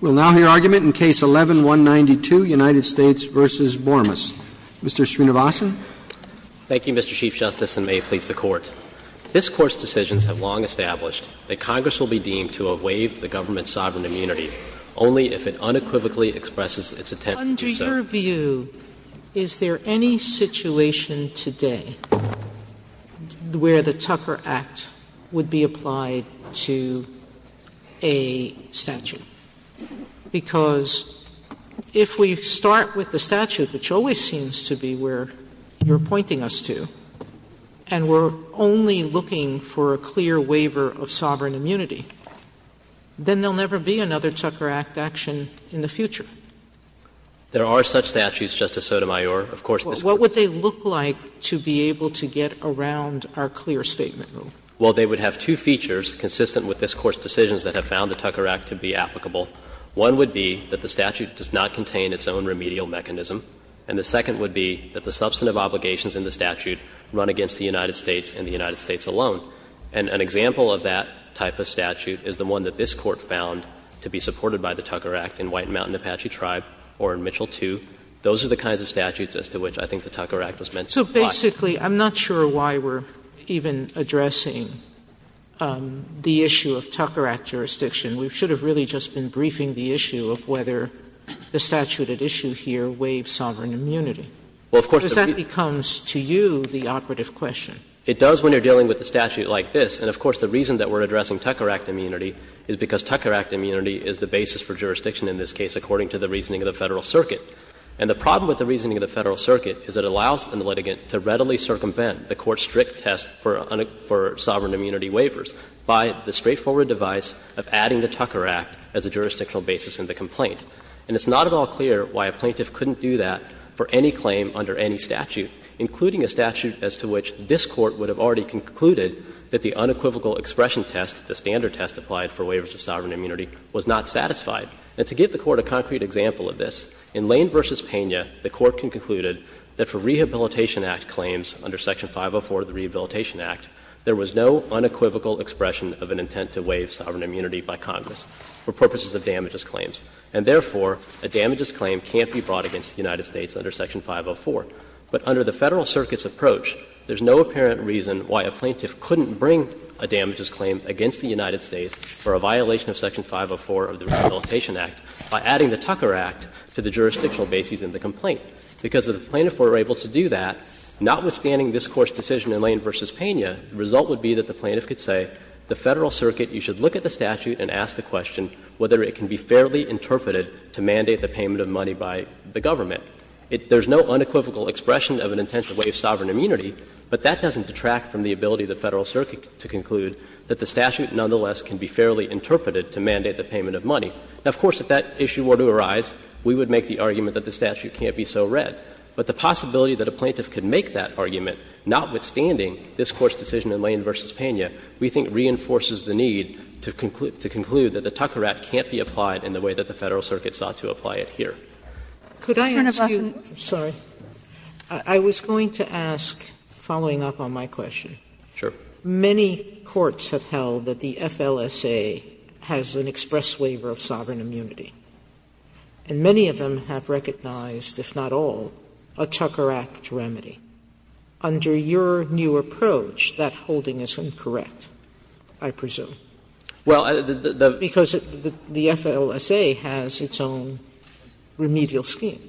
We'll now hear argument in Case 11-192, United States v. Bormes. Mr. Srinivasan. Thank you, Mr. Chief Justice, and may it please the Court. This Court's decisions have long established that Congress will be deemed to have waived the government's sovereign immunity only if it unequivocally expresses its intent to do so. Under your view, is there any situation today where the Tucker Act would be applied to a statute? Because if we start with the statute, which always seems to be where you're pointing us to, and we're only looking for a clear waiver of sovereign immunity, then there will never be another Tucker Act action in the future. There are such statutes, Justice Sotomayor. Of course, this Court's What would they look like to be able to get around our clear statement rule? Well, they would have two features consistent with this Court's decisions that have found the Tucker Act to be applicable. One would be that the statute does not contain its own remedial mechanism, and the second would be that the substantive obligations in the statute run against the United States and the United States alone. And an example of that type of statute is the one that this Court found to be supported by the Tucker Act in White Mountain Apache Tribe or in Mitchell II. Those are the kinds of statutes as to which I think the Tucker Act was meant to apply. So basically, I'm not sure why we're even addressing the issue of Tucker Act jurisdiction. We should have really just been briefing the issue of whether the statute at issue here waived sovereign immunity. Well, of course the Because that becomes to you the operative question. It does when you're dealing with a statute like this. And of course, the reason that we're addressing Tucker Act immunity is because Tucker Act immunity is the basis for jurisdiction in this case, according to the reasoning of the Federal Circuit. And the problem with the reasoning of the Federal Circuit is it allows the litigant to readily circumvent the Court's strict test for sovereign immunity waivers by the straightforward device of adding the Tucker Act as a jurisdictional basis in the complaint. And it's not at all clear why a plaintiff couldn't do that for any claim under any statute, including a statute as to which this Court would have already concluded that the unequivocal expression test, the standard test applied for waivers of sovereign immunity, was not satisfied. And to give the Court a concrete example of this, in Lane v. Pena, the Court had concluded that for Rehabilitation Act claims under Section 504 of the Rehabilitation Act, there was no unequivocal expression of an intent to waive sovereign immunity by Congress for purposes of damages claims. And therefore, a damages claim can't be brought against the United States under Section 504. But under the Federal Circuit's approach, there's no apparent reason why a plaintiff couldn't bring a damages claim against the United States for a violation of Section 504 of the Rehabilitation Act by adding the Tucker Act to the jurisdictional basis in the complaint. Because if the plaintiff were able to do that, notwithstanding this Court's decision in Lane v. Pena, the result would be that the plaintiff could say, the Federal Circuit, you should look at the statute and ask the question whether it can be fairly interpreted to mandate the payment of money by the government. There's no unequivocal expression of an intent to waive sovereign immunity, but that doesn't detract from the ability of the Federal Circuit to conclude that the statute nonetheless can be fairly interpreted to mandate the payment of money. Now, of course, if that issue were to arise, we would make the argument that the statute can't be so read. But the possibility that a plaintiff could make that argument, notwithstanding this Court's decision in Lane v. Pena, we think reinforces the need to conclude that the Tucker Act can't be applied in the way that the Federal Circuit sought to apply it here. Sotomayor, could I ask you? I'm sorry. I was going to ask, following up on my question. Many courts have held that the FLSA has an express waiver of sovereign immunity. And many of them have recognized, if not all, a Tucker Act remedy. Under your new approach, that holding is incorrect, I presume. Because the FLSA has its own remedial scheme.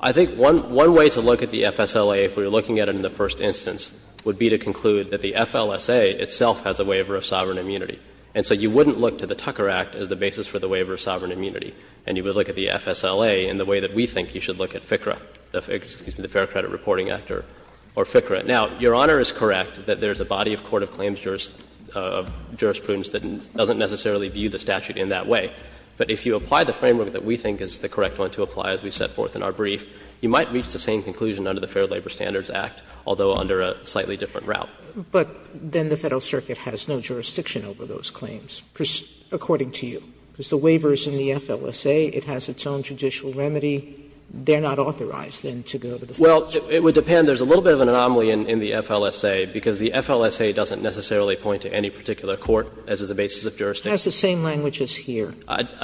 I think one way to look at the FSLA, if we were looking at it in the first instance, would be to conclude that the FLSA itself has a waiver of sovereign immunity. And so you wouldn't look to the Tucker Act as the basis for the waiver of sovereign immunity, and you would look at the FSLA in the way that we think you should look at FCRA, the Fair Credit Reporting Act or FCRA. Now, Your Honor is correct that there is a body of court of claims jurisprudence that doesn't necessarily view the statute in that way. But if you apply the framework that we think is the correct one to apply, as we set forth in our brief, you might reach the same conclusion under the Fair Labor Standards Act, although under a slightly different route. Sotomayor, but then the Federal Circuit has no jurisdiction over those claims, according to you. Because the waiver is in the FLSA. It has its own judicial remedy. They are not authorized, then, to go to the Federal Circuit. Well, it would depend. There is a little bit of an anomaly in the FLSA, because the FLSA doesn't necessarily point to any particular court as is the basis of jurisdiction. It has the same language as here.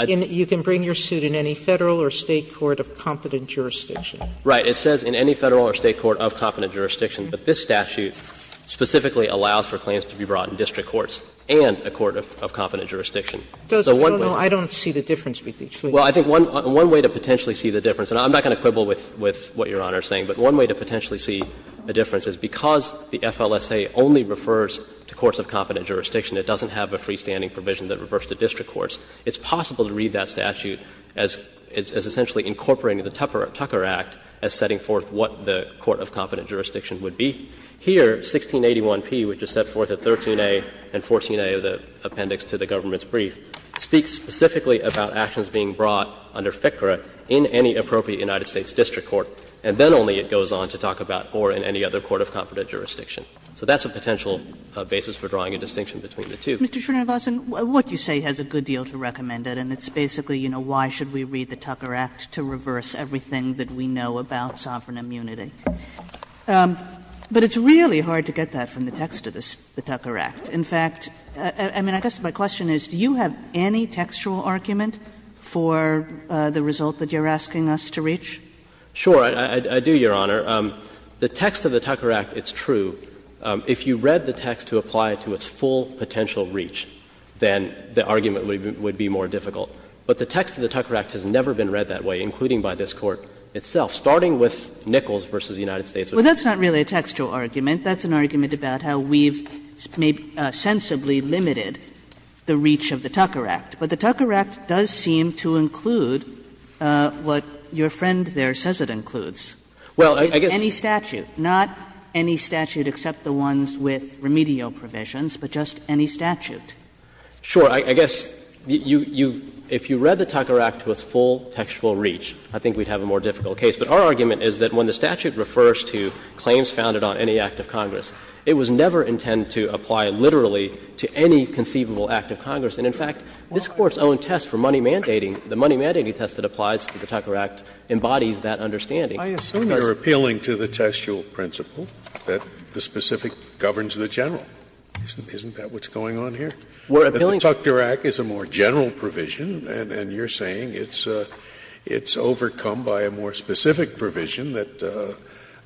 You can bring your suit in any Federal or State court of competent jurisdiction. Right. It says in any Federal or State court of competent jurisdiction. But this statute specifically allows for claims to be brought in district courts and a court of competent jurisdiction. So one way. I don't see the difference between the two. Well, I think one way to potentially see the difference, and I'm not going to quibble with what Your Honor is saying, but one way to potentially see the difference is because the FLSA only refers to courts of competent jurisdiction, it doesn't have a freestanding provision that refers to district courts, it's possible to read that statute as essentially incorporating the Tucker Act as setting forth what the court of competent jurisdiction would be. Here, 1681p, which is set forth at 13a and 14a of the appendix to the government's brief, speaks specifically about actions being brought under FCRA in any appropriate United States district court, and then only it goes on to talk about or in any other court of competent jurisdiction. So that's a potential basis for drawing a distinction between the two. Kagan, Mr. Srinivasan, what you say has a good deal to recommend it, and it's basically, you know, why should we read the Tucker Act to reverse everything that we know about sovereign immunity. But it's really hard to get that from the text of the Tucker Act. In fact, I mean, I guess my question is, do you have any textual argument for the result that you're asking us to reach? Srinivasan Sure, I do, Your Honor. The text of the Tucker Act, it's true. If you read the text to apply it to its full potential reach, then the argument would be more difficult. But the text of the Tucker Act has never been read that way, including by this Court itself, starting with Nichols v. United States. Kagan Well, that's not really a textual argument. That's an argument about how we've sensibly limited the reach of the Tucker Act. But the Tucker Act does seem to include what your friend there says it includes. Srinivasan Well, I guess Kagan Any statute. Not any statute except the ones with remedial provisions, but just any statute. Srinivasan Sure. I guess you – if you read the Tucker Act to its full textual reach, I think we'd have a more difficult case. But our argument is that when the statute refers to claims founded on any act of Congress, it was never intended to apply literally to any conceivable act of Congress. And, in fact, this Court's own test for money mandating, the money mandating test that applies to the Tucker Act embodies that understanding. Scalia I assume you're appealing to the textual principle that the specific governs the general. Isn't that what's going on here? Srinivasan We're appealing to the Scalia The Tucker Act is a more general provision, and you're saying it's overcome by a more specific provision that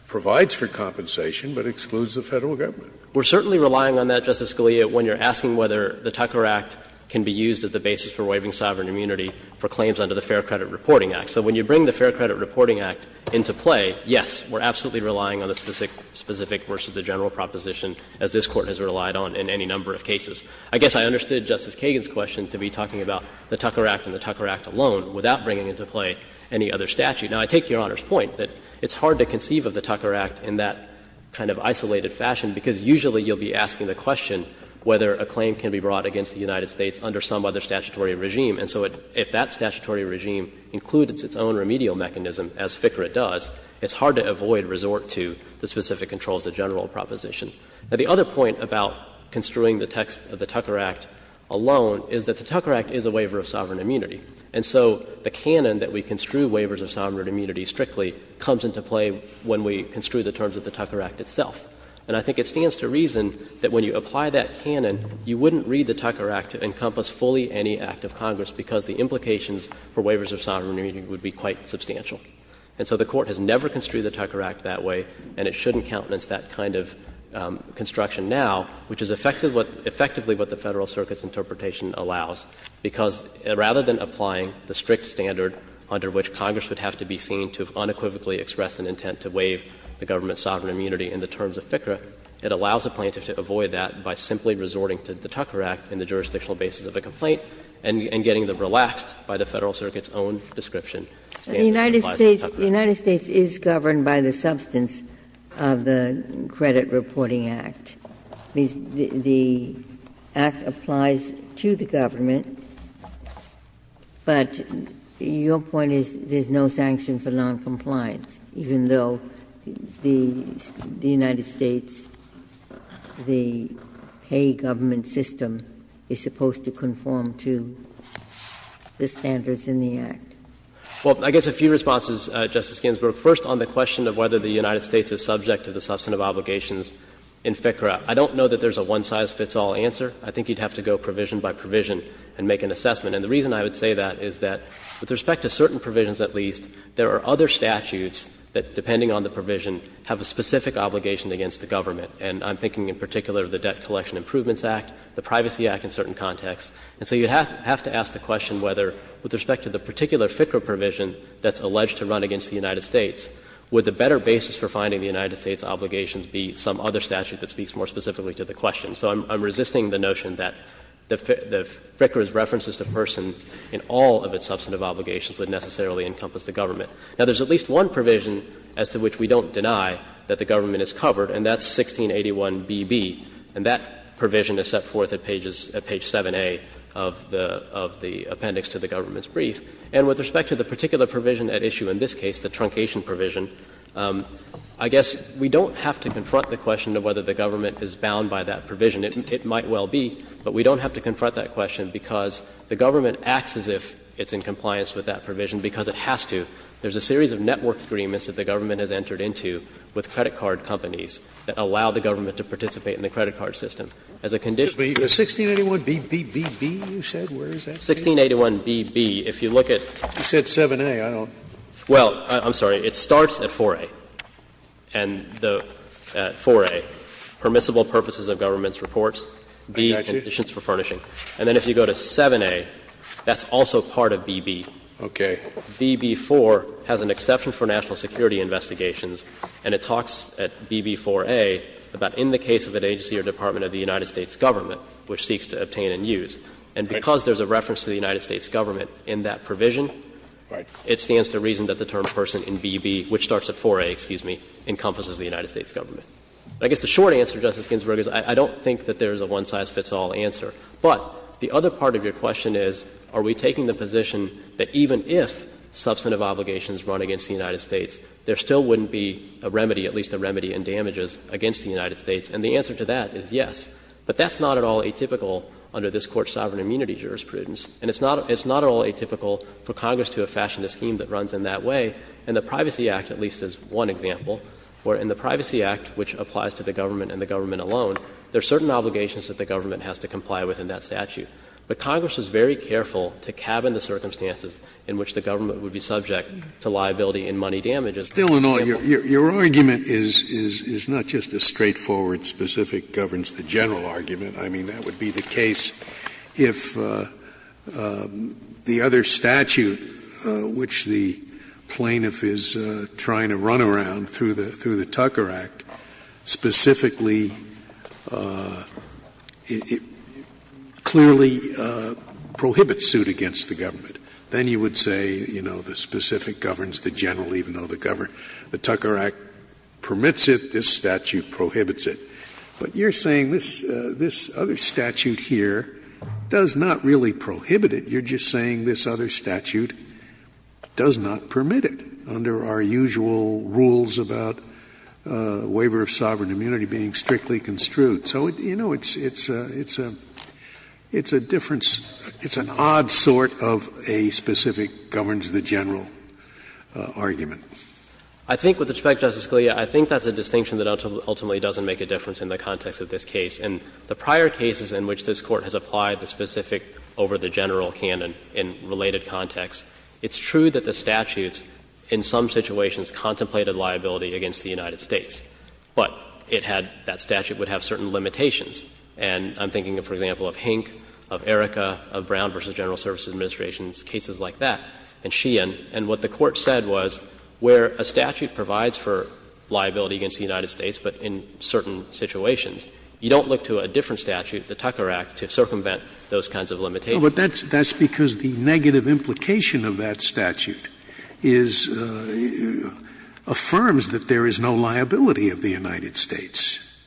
provides for compensation but excludes the Federal Government. Srinivasan We're certainly relying on that, Justice Scalia, when you're asking whether the Tucker Act can be used as the basis for waiving sovereign immunity for claims under the Fair Credit Reporting Act. So when you bring the Fair Credit Reporting Act into play, yes, we're absolutely relying on the specific versus the general proposition, as this Court has relied on in any number of cases. I guess I understood Justice Kagan's question to be talking about the Tucker Act and the Tucker Act alone without bringing into play any other statute. Now, I take Your Honor's point that it's hard to conceive of the Tucker Act in that kind of isolated fashion, because usually you'll be asking the question whether a claim can be brought against the United States under some other statutory regime. And so if that statutory regime includes its own remedial mechanism, as FCRA does, it's hard to avoid resort to the specific controls of the general proposition. Now, the other point about construing the text of the Tucker Act alone is that the Tucker Act is a waiver of sovereign immunity. And so the canon that we construe waivers of sovereign immunity strictly comes into play when we construe the terms of the Tucker Act itself. And I think it stands to reason that when you apply that canon, you wouldn't read the Tucker Act to encompass fully any act of Congress, because the implications for waivers of sovereign immunity would be quite substantial. And so the Court has never construed the Tucker Act that way, and it shouldn't countenance that kind of construction now, which is effectively what the Federal Circuit's interpretation allows, because rather than applying the strict standard under which Congress would have to be seen to have unequivocally expressed an intent to waive the government's sovereign immunity in the terms of FCRA, it allows a plaintiff to avoid that by simply resorting to the Tucker Act in the jurisdictional basis of a complaint and getting them relaxed by the Federal Circuit's own description standard that applies to the Tucker Act. Ginsburg. The United States is governed by the substance of the Credit Reporting Act. The Act applies to the government, but your point is there's no sanction for noncompliance, even though the United States, the pay government system, is supposed to conform to the standards in the Act. Well, I guess a few responses, Justice Ginsburg. First, on the question of whether the United States is subject to the substantive obligations in FCRA, I don't know that there's a one-size-fits-all answer. I think you'd have to go provision by provision and make an assessment. And the reason I would say that is that with respect to certain provisions at least, there are other statutes that, depending on the provision, have a specific obligation against the government. And I'm thinking in particular of the Debt Collection Improvements Act, the Privacy Act in certain contexts. And so you'd have to ask the question whether, with respect to the particular FCRA provision that's alleged to run against the United States, would the better basis for finding the United States' obligations be some other statute that speaks more specifically to the question. So I'm resisting the notion that FCRA's references to persons in all of its substantive obligations would necessarily encompass the government. Now, there's at least one provision as to which we don't deny that the government is covered, and that's 1681BB. And that provision is set forth at pages — at page 7A of the appendix to the government's brief. And with respect to the particular provision at issue in this case, the truncation provision, I guess we don't have to confront the question of whether the government is bound by that provision. It acts as if it's in compliance with that provision because it has to. There's a series of network agreements that the government has entered into with credit card companies that allow the government to participate in the credit card system. As a condition— Scalia. But 1681BBBB, you said? Where is that? Chastaner. 1681BB, if you look at— Scalia. You said 7A. I don't— Chastaner. Well, I'm sorry. It starts at 4A. And the — at 4A, permissible purposes of government's reports. Be conditions for furnishing. And then if you go to 7A, that's also part of BB. Okay. BB4 has an exception for national security investigations, and it talks at BB4A about in the case of an agency or department of the United States government which seeks to obtain and use. And because there's a reference to the United States government in that provision, it stands to reason that the term person in BB, which starts at 4A, excuse me, encompasses the United States government. I guess the short answer, Justice Ginsburg, is I don't think that there's a one-size-fits-all answer. But the other part of your question is, are we taking the position that even if substantive obligations run against the United States, there still wouldn't be a remedy, at least a remedy in damages, against the United States? And the answer to that is yes. But that's not at all atypical under this Court's sovereign immunity jurisprudence. And it's not at all atypical for Congress to have fashioned a scheme that runs in that way. In the Privacy Act, at least as one example, where in the Privacy Act, which applies to the government and the government alone, there are certain obligations that the government has to comply with in that statute. But Congress was very careful to cabin the circumstances in which the government would be subject to liability in money damages. Scalia, your argument is not just a straightforward, specific, governs-the-general argument. I mean, that would be the case if the other statute, which the plaintiff is trying to run around through the Tucker Act, specifically clearly prohibits suit against the government. Then you would say, you know, the specific governs the general, even though the Tucker Act permits it, this statute prohibits it. But you're saying this other statute here does not really prohibit it. You're just saying this other statute does not permit it under our usual rules about waiver of sovereign immunity being strictly construed. So, you know, it's a difference. It's an odd sort of a specific governs-the-general argument. I think with respect, Justice Scalia, I think that's a distinction that ultimately doesn't make a difference in the context of this case. And the prior cases in which this Court has applied the specific over-the-general canon in related contexts, it's true that the statutes in some situations contemplated liability against the United States. But it had that statute would have certain limitations. And I'm thinking, for example, of Hink, of Erika, of Brown v. General Services Administration's cases like that, and Sheehan. And what the Court said was where a statute provides for liability against the United States in certain situations, you don't look to a different statute, the Tucker Act, to circumvent those kinds of limitations. Scalia. But that's because the negative implication of that statute is — affirms that there is no liability of the United States,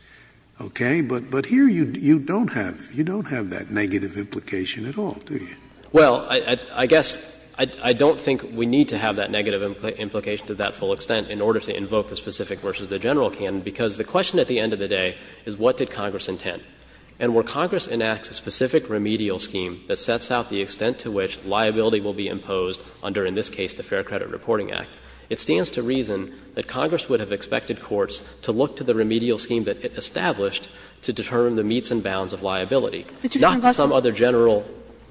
okay? But here you don't have — you don't have that negative implication at all, do you? Well, I guess I don't think we need to have that negative implication to that full extent in order to invoke the specific versus the general canon, because the question at the end of the day is what did Congress intend? And where Congress enacts a specific remedial scheme that sets out the extent to which liability will be imposed under, in this case, the Fair Credit Reporting Act, it stands to reason that Congress would have expected courts to look to the remedial scheme that it established to determine the meets and bounds of liability, not some other general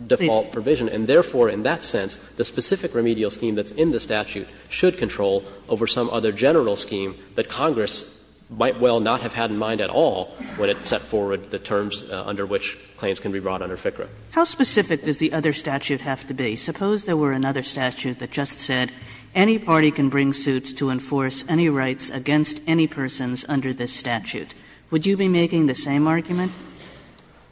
default provision. And therefore, in that sense, the specific remedial scheme that's in the statute should control over some other general scheme that Congress might well not have had in mind at all when it set forward the terms under which claims can be brought under FCRA. Kagan How specific does the other statute have to be? Suppose there were another statute that just said any party can bring suit to enforce any rights against any persons under this statute. Would you be making the same argument?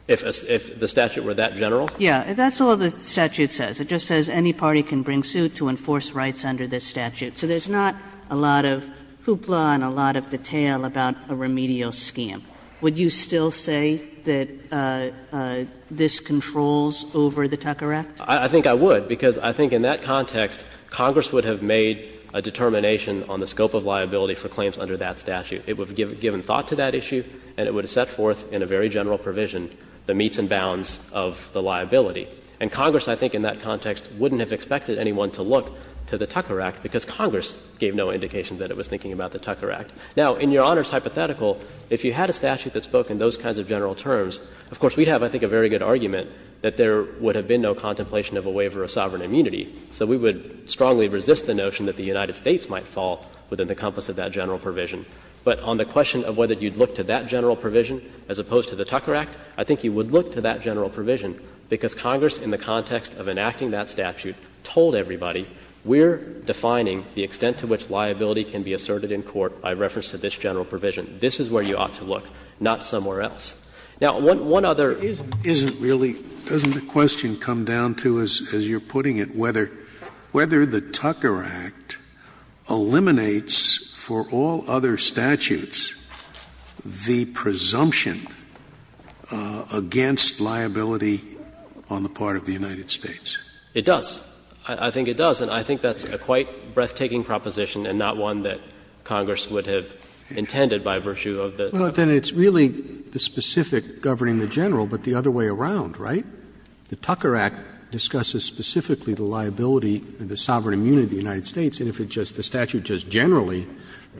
If the statute were that general? Yeah. That's all the statute says. It just says any party can bring suit to enforce rights under this statute. So there's not a lot of hoopla and a lot of detail about a remedial scheme. Would you still say that this controls over the Tucker Act? I think I would, because I think in that context, Congress would have made a determination on the scope of liability for claims under that statute. It would have given thought to that issue and it would have set forth in a very general provision the meets and bounds of the liability. And Congress, I think, in that context, wouldn't have expected anyone to look to the Tucker Act, because Congress gave no indication that it was thinking about the Tucker Act. Now, in Your Honor's hypothetical, if you had a statute that spoke in those kinds of general terms, of course, we'd have, I think, a very good argument that there would have been no contemplation of a waiver of sovereign immunity. So we would strongly resist the notion that the United States might fall within the compass of that general provision. But on the question of whether you'd look to that general provision as opposed to the Tucker Act, I think you would look to that general provision, because Congress, in the context of enacting that statute, told everybody, we're defining the extent to which liability can be asserted in court by reference to this general provision. This is where you ought to look, not somewhere else. Now, one other ism. Scalia, isn't really — doesn't the question come down to, as you're putting it, whether the Tucker Act eliminates for all other statutes the presumption against liability on the part of the United States? It does. I think it does, and I think that's a quite breathtaking proposition and not one that Congress would have intended by virtue of the Tucker Act. Well, then it's really the specific governing the general, but the other way around, right? The Tucker Act discusses specifically the liability, the sovereign immunity of the United States, and if it just — the statute just generally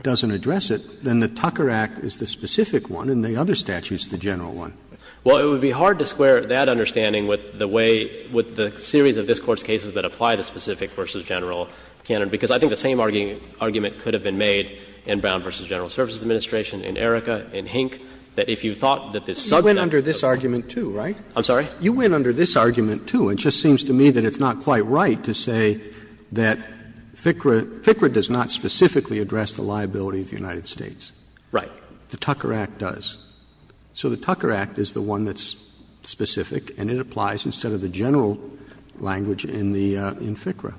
doesn't address it, then the Tucker Act is the specific one and the other statute is the general one. Well, it would be hard to square that understanding with the way — with the series of this Court's cases that apply the specific versus general canon, because I think the same argument could have been made in Brown v. General Services Administration, in Erika, in Hink, that if you thought that this subject— You went under this argument, too, right? I'm sorry? You went under this argument, too, and it just seems to me that it's not quite right to say that FCRA does not specifically address the liability of the United States. Right. The Tucker Act does. So the Tucker Act is the one that's specific and it applies instead of the general language in the — in FCRA.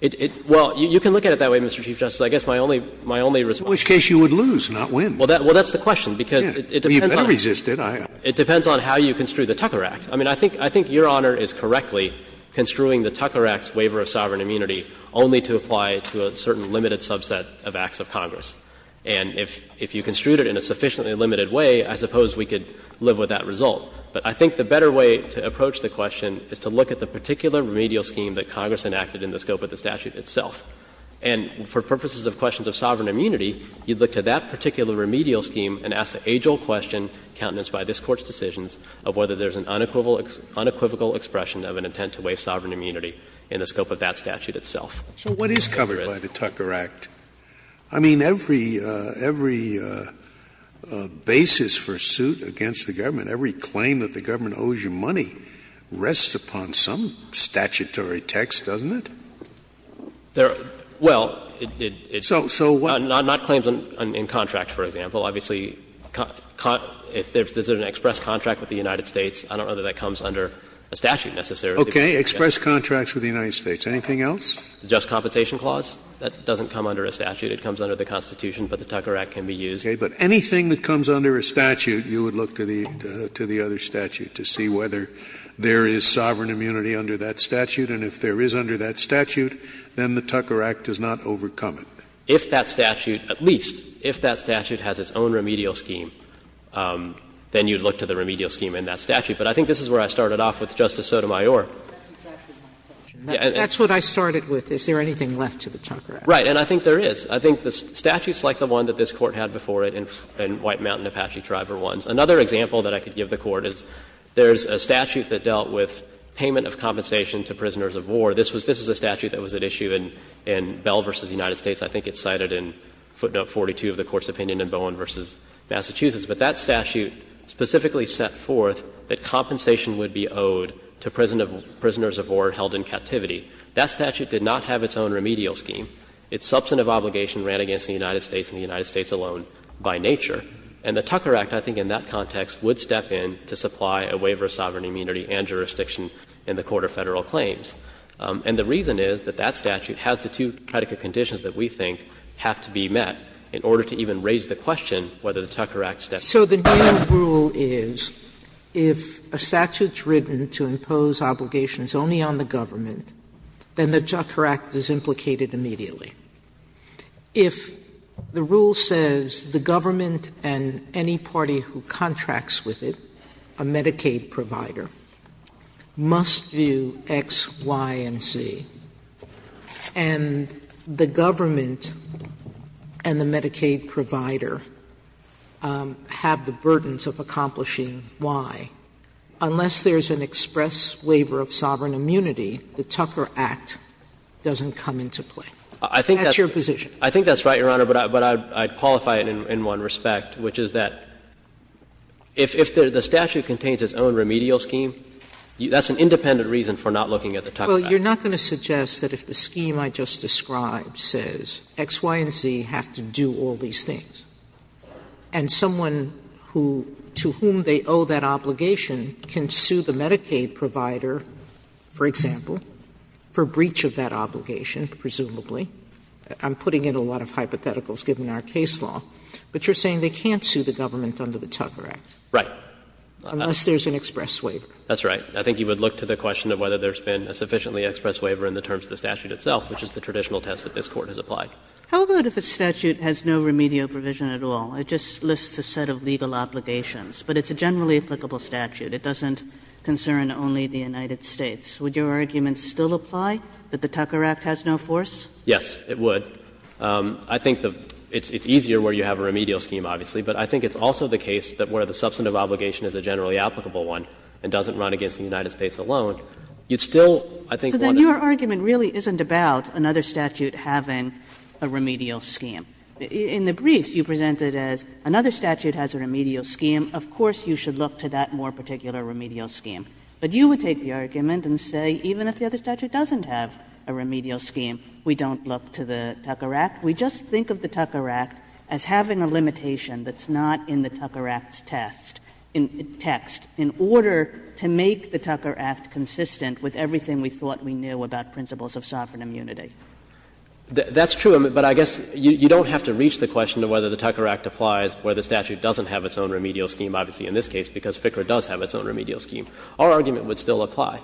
It — well, you can look at it that way, Mr. Chief Justice. I guess my only — my only response— In which case you would lose, not win. Well, that's the question, because it depends on— Well, you better resist it. It depends on how you construe the Tucker Act. I mean, I think — I think Your Honor is correctly construing the Tucker Act's waiver of sovereign immunity only to apply to a certain limited subset of acts of Congress. And if — if you construed it in a sufficiently limited way, I suppose we could live with that result. But I think the better way to approach the question is to look at the particular remedial scheme that Congress enacted in the scope of the statute itself. And for purposes of questions of sovereign immunity, you'd look to that particular remedial scheme and ask the age-old question countenanced by this Court's decisions of whether there's an unequivocal expression of an intent to waive sovereign immunity in the scope of that statute itself. So what is covered by the Tucker Act? I mean, every — every basis for suit against the government, every claim that the government owes you money, rests upon some statutory text, doesn't it? There — well, it's— So what— Not claims in contracts, for example. Obviously, if there's an express contract with the United States, I don't know that that comes under a statute necessarily. Okay. Express contracts with the United States. Anything else? The Just Compensation Clause, that doesn't come under a statute. It comes under the Constitution, but the Tucker Act can be used. Okay. But anything that comes under a statute, you would look to the — to the other statute to see whether there is sovereign immunity under that statute, and if there is under that statute, then the Tucker Act does not overcome it. If that statute, at least, if that statute has its own remedial scheme, then you'd look to the remedial scheme in that statute. But I think this is where I started off with Justice Sotomayor. That's what I started with. Is there anything left to the Tucker Act? Right. And I think there is. I think the statutes like the one that this Court had before it and White Mountain Apache Tribe are ones. Another example that I could give the Court is there's a statute that dealt with payment of compensation to prisoners of war. This was — this is a statute that was at issue in Bell v. United States. I think it's cited in footnote 42 of the Court's opinion in Bowen v. Massachusetts. But that statute specifically set forth that compensation would be owed to prison of prisoners of war held in captivity. That statute did not have its own remedial scheme. Its substantive obligation ran against the United States and the United States alone by nature. And the Tucker Act, I think, in that context would step in to supply a waiver of sovereign immunity and jurisdiction in the court of Federal claims. And the reason is that that statute has the two predicate conditions that we think have to be met in order to even raise the question whether the Tucker Act steps in. Sotomayor, so the new rule is if a statute's written to impose obligations only on the government, then the Tucker Act is implicated immediately. If the rule says the government and any party who contracts with it, a Medicaid provider, must do X, Y, and Z, and the government and the Medicaid provider have the burdens of accomplishing Y, unless there's an express waiver of sovereign immunity, the Tucker Act doesn't come into play. That's your position. I think that's right, Your Honor, but I'd qualify it in one respect, which is that if the statute contains its own remedial scheme, that's an independent reason for not looking at the Tucker Act. Well, you're not going to suggest that if the scheme I just described says X, Y, and Z have to do all these things, and someone who to whom they owe that obligation can sue the Medicaid provider, for example, for breach of that obligation, presumably, I'm putting in a lot of hypotheticals given our case law, but you're saying they can't sue the government under the Tucker Act. Right. Unless there's an express waiver. That's right. I think you would look to the question of whether there's been a sufficiently express waiver in the terms of the statute itself, which is the traditional test that this Court has applied. How about if a statute has no remedial provision at all? It just lists a set of legal obligations, but it's a generally applicable statute. It doesn't concern only the United States. Would your argument still apply that the Tucker Act has no force? Yes, it would. I think it's easier where you have a remedial scheme, obviously, but I think it's also the case that where the substantive obligation is a generally applicable one and doesn't run against the United States alone, you'd still, I think, want to Your argument really isn't about another statute having a remedial scheme. In the briefs, you presented as another statute has a remedial scheme. Of course, you should look to that more particular remedial scheme. But you would take the argument and say even if the other statute doesn't have a remedial scheme, we don't look to the Tucker Act. We just think of the Tucker Act as having a limitation that's not in the Tucker Act's test, text, in order to make the Tucker Act consistent with everything we thought we knew about principles of sovereign immunity. That's true, but I guess you don't have to reach the question of whether the Tucker Act applies where the statute doesn't have its own remedial scheme, obviously, in this case, because FCRA does have its own remedial scheme. Our argument would still apply.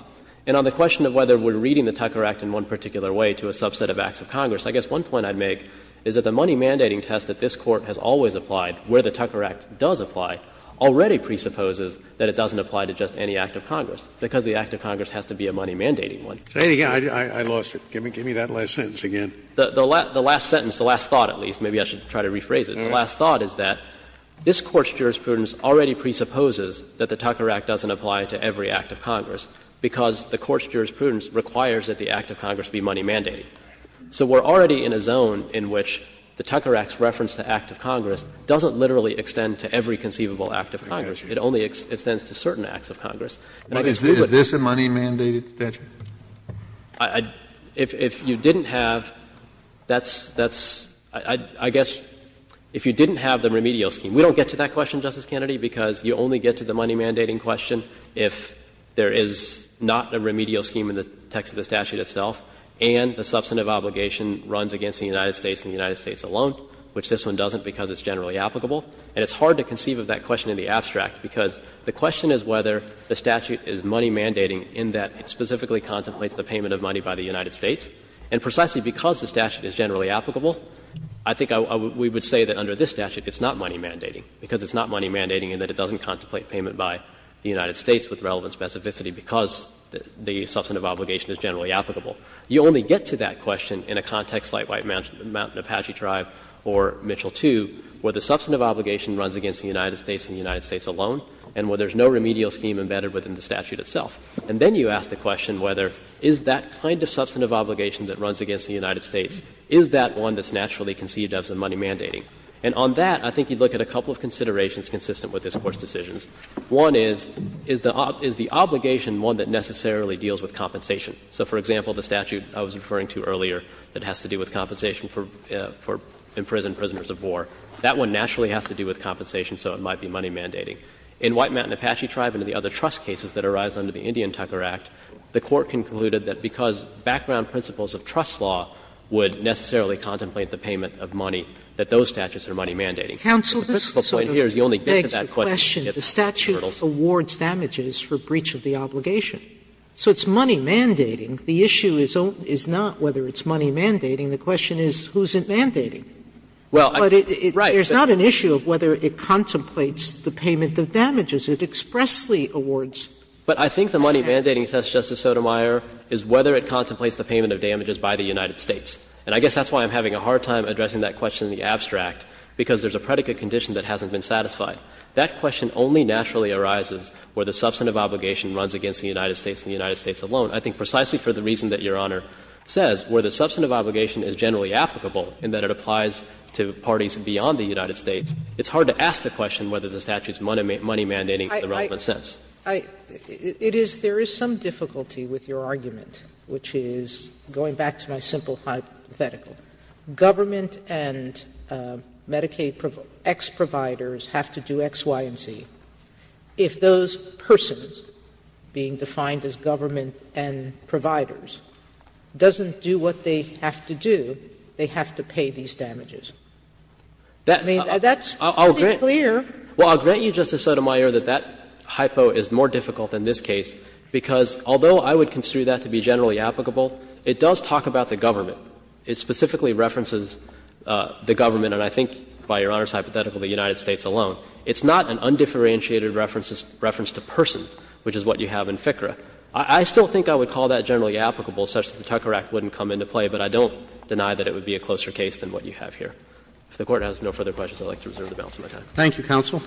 And on the question of whether we're reading the Tucker Act in one particular way to a subset of acts of Congress, I guess one point I'd make is that the money mandating test that this Court has always applied where the Tucker Act does apply already presupposes that it doesn't apply to just any act of Congress, because the act of Congress has to be a money mandating one. Say it again. I lost it. Give me that last sentence again. The last sentence, the last thought at least, maybe I should try to rephrase it. The last thought is that this Court's jurisprudence already presupposes that the Tucker Act doesn't apply to every act of Congress, because the Court's jurisprudence requires that the act of Congress be money mandating. So we're already in a zone in which the Tucker Act's reference to act of Congress doesn't literally extend to every conceivable act of Congress. It only extends to certain acts of Congress. Is this a money mandated statute? If you didn't have, that's — I guess if you didn't have the remedial scheme. We don't get to that question, Justice Kennedy, because you only get to the money mandating question if there is not a remedial scheme in the text of the statute itself and the substantive obligation runs against the United States and the United States alone, which this one doesn't because it's generally applicable. And it's hard to conceive of that question in the abstract, because the question is whether the statute is money mandating in that it specifically contemplates the payment of money by the United States. And precisely because the statute is generally applicable, I think we would say that under this statute it's not money mandating, because it's not money mandating in that it doesn't contemplate payment by the United States with relevant specificity because the substantive obligation is generally applicable. You only get to that question in a context like White Mountain Apache Tribe or Mitchell 2, where the substantive obligation runs against the United States and the United States has a remedial scheme embedded within the statute itself. And then you ask the question whether, is that kind of substantive obligation that runs against the United States, is that one that's naturally conceived of as money mandating? And on that, I think you'd look at a couple of considerations consistent with this Court's decisions. One is, is the obligation one that necessarily deals with compensation? So, for example, the statute I was referring to earlier that has to do with compensation for imprisoned prisoners of war, that one naturally has to do with compensation so it might be money mandating. In White Mountain Apache Tribe and the other trust cases that arise under the Indian Tucker Act, the Court concluded that because background principles of trust law would necessarily contemplate the payment of money, that those statutes are money mandating. Sotomayor, the only question is that the statute awards damages for breach of the obligation. So it's money mandating. The issue is not whether it's money mandating. The question is, who's it mandating? Sotomayor, it's not the statute that's mandating the payment of damages. It expressly awards. But I think the money mandating test, Justice Sotomayor, is whether it contemplates the payment of damages by the United States. And I guess that's why I'm having a hard time addressing that question in the abstract, because there's a predicate condition that hasn't been satisfied. That question only naturally arises where the substantive obligation runs against the United States and the United States alone. I think precisely for the reason that Your Honor says, where the substantive obligation is not money mandating in the relevant sense. Sotomayor, it is there is some difficulty with your argument, which is, going back to my simple hypothetical, government and Medicaid ex-providers have to do X, Y, and Z. If those persons being defined as government and providers doesn't do what they have to do, they have to pay these damages. I mean, that's pretty clear. Well, I'll grant you, Justice Sotomayor, that that hypo is more difficult than this case, because although I would construe that to be generally applicable, it does talk about the government. It specifically references the government, and I think, by Your Honor's hypothetical, the United States alone. It's not an undifferentiated reference to persons, which is what you have in FCRA. I still think I would call that generally applicable, such that the Tucker Act wouldn't come into play, but I don't deny that it would be a closer case than what you have here. If the Court has no further questions, I would like to reserve the balance of my time. Thank you, Counsel.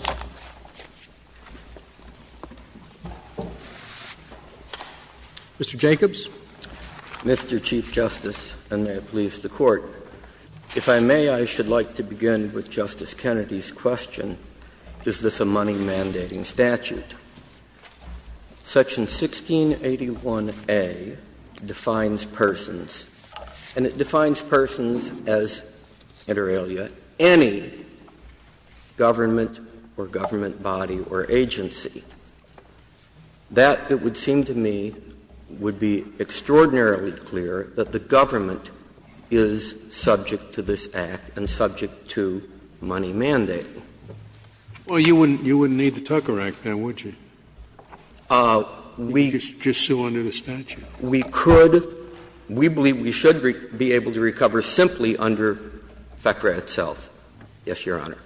Mr. Jacobs. Mr. Chief Justice, and may it please the Court, if I may, I should like to begin with Justice Kennedy's question. Is this a money mandating statute? Section 1681A defines persons, and it defines persons as inter alia any government or government body or agency. That, it would seem to me, would be extraordinarily clear that the government is subject to this Act and subject to money mandating. Well, you wouldn't need the Tucker Act then, would you? We could. We believe we should be able to recover simply under FCRA itself. Yes, Your Honor.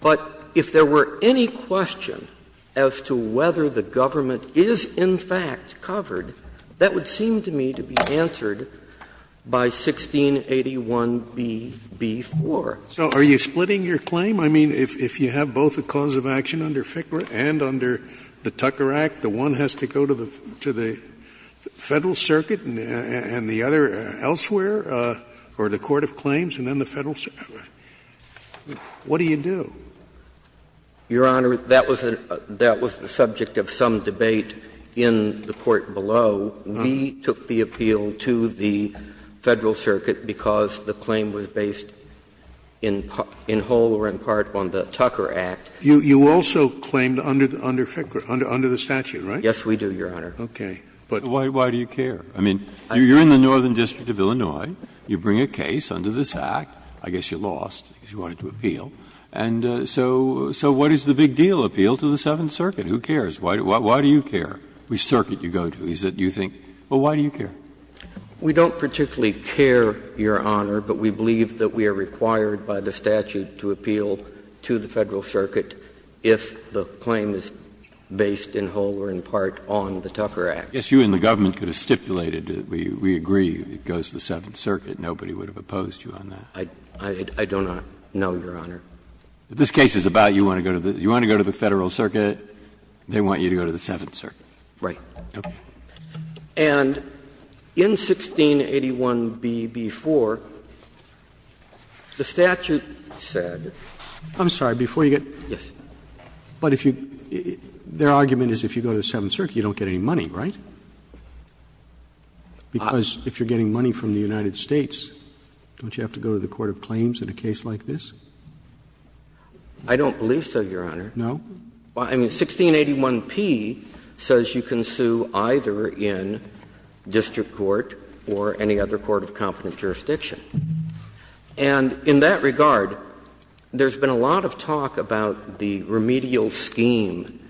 But if there were any question as to whether the government is in fact covered, that would seem to me to be answered by 1681Bb4. So are you splitting your claim? I mean, if you have both a cause of action under FCRA and under the Tucker Act, the one has to go to the Federal Circuit and the other elsewhere, or the court of claims, and then the Federal Circuit, what do you do? Your Honor, that was the subject of some debate in the court below. We took the appeal to the Federal Circuit because the claim was based in whole or in part on the Tucker Act. You also claimed under FCRA, under the statute, right? Yes, we do, Your Honor. Okay. But why do you care? I mean, you're in the Northern District of Illinois. You bring a case under this Act. I guess you lost because you wanted to appeal. And so what is the big deal? Appeal to the Seventh Circuit. Who cares? Why do you care? Which circuit you go to? Is it you think, well, why do you care? We don't particularly care, Your Honor, but we believe that we are required by the statute to appeal to the Federal Circuit if the claim is based in whole or in part on the Tucker Act. I guess you and the government could have stipulated, we agree, it goes to the Seventh Circuit, nobody would have opposed you on that. I don't know, Your Honor. If this case is about you want to go to the Federal Circuit, they want you to go to the Seventh Circuit. Right. Okay. And in 1681b-b-4, the statute said that if you go to the Seventh Circuit, you don't get any money, right? Because if you're getting money from the United States, don't you have to go to the court of claims in a case like this? I don't believe so, Your Honor. No? I mean, 1681p says you can sue either in district court or any other court of competent jurisdiction. And in that regard, there's been a lot of talk about the remedial scheme.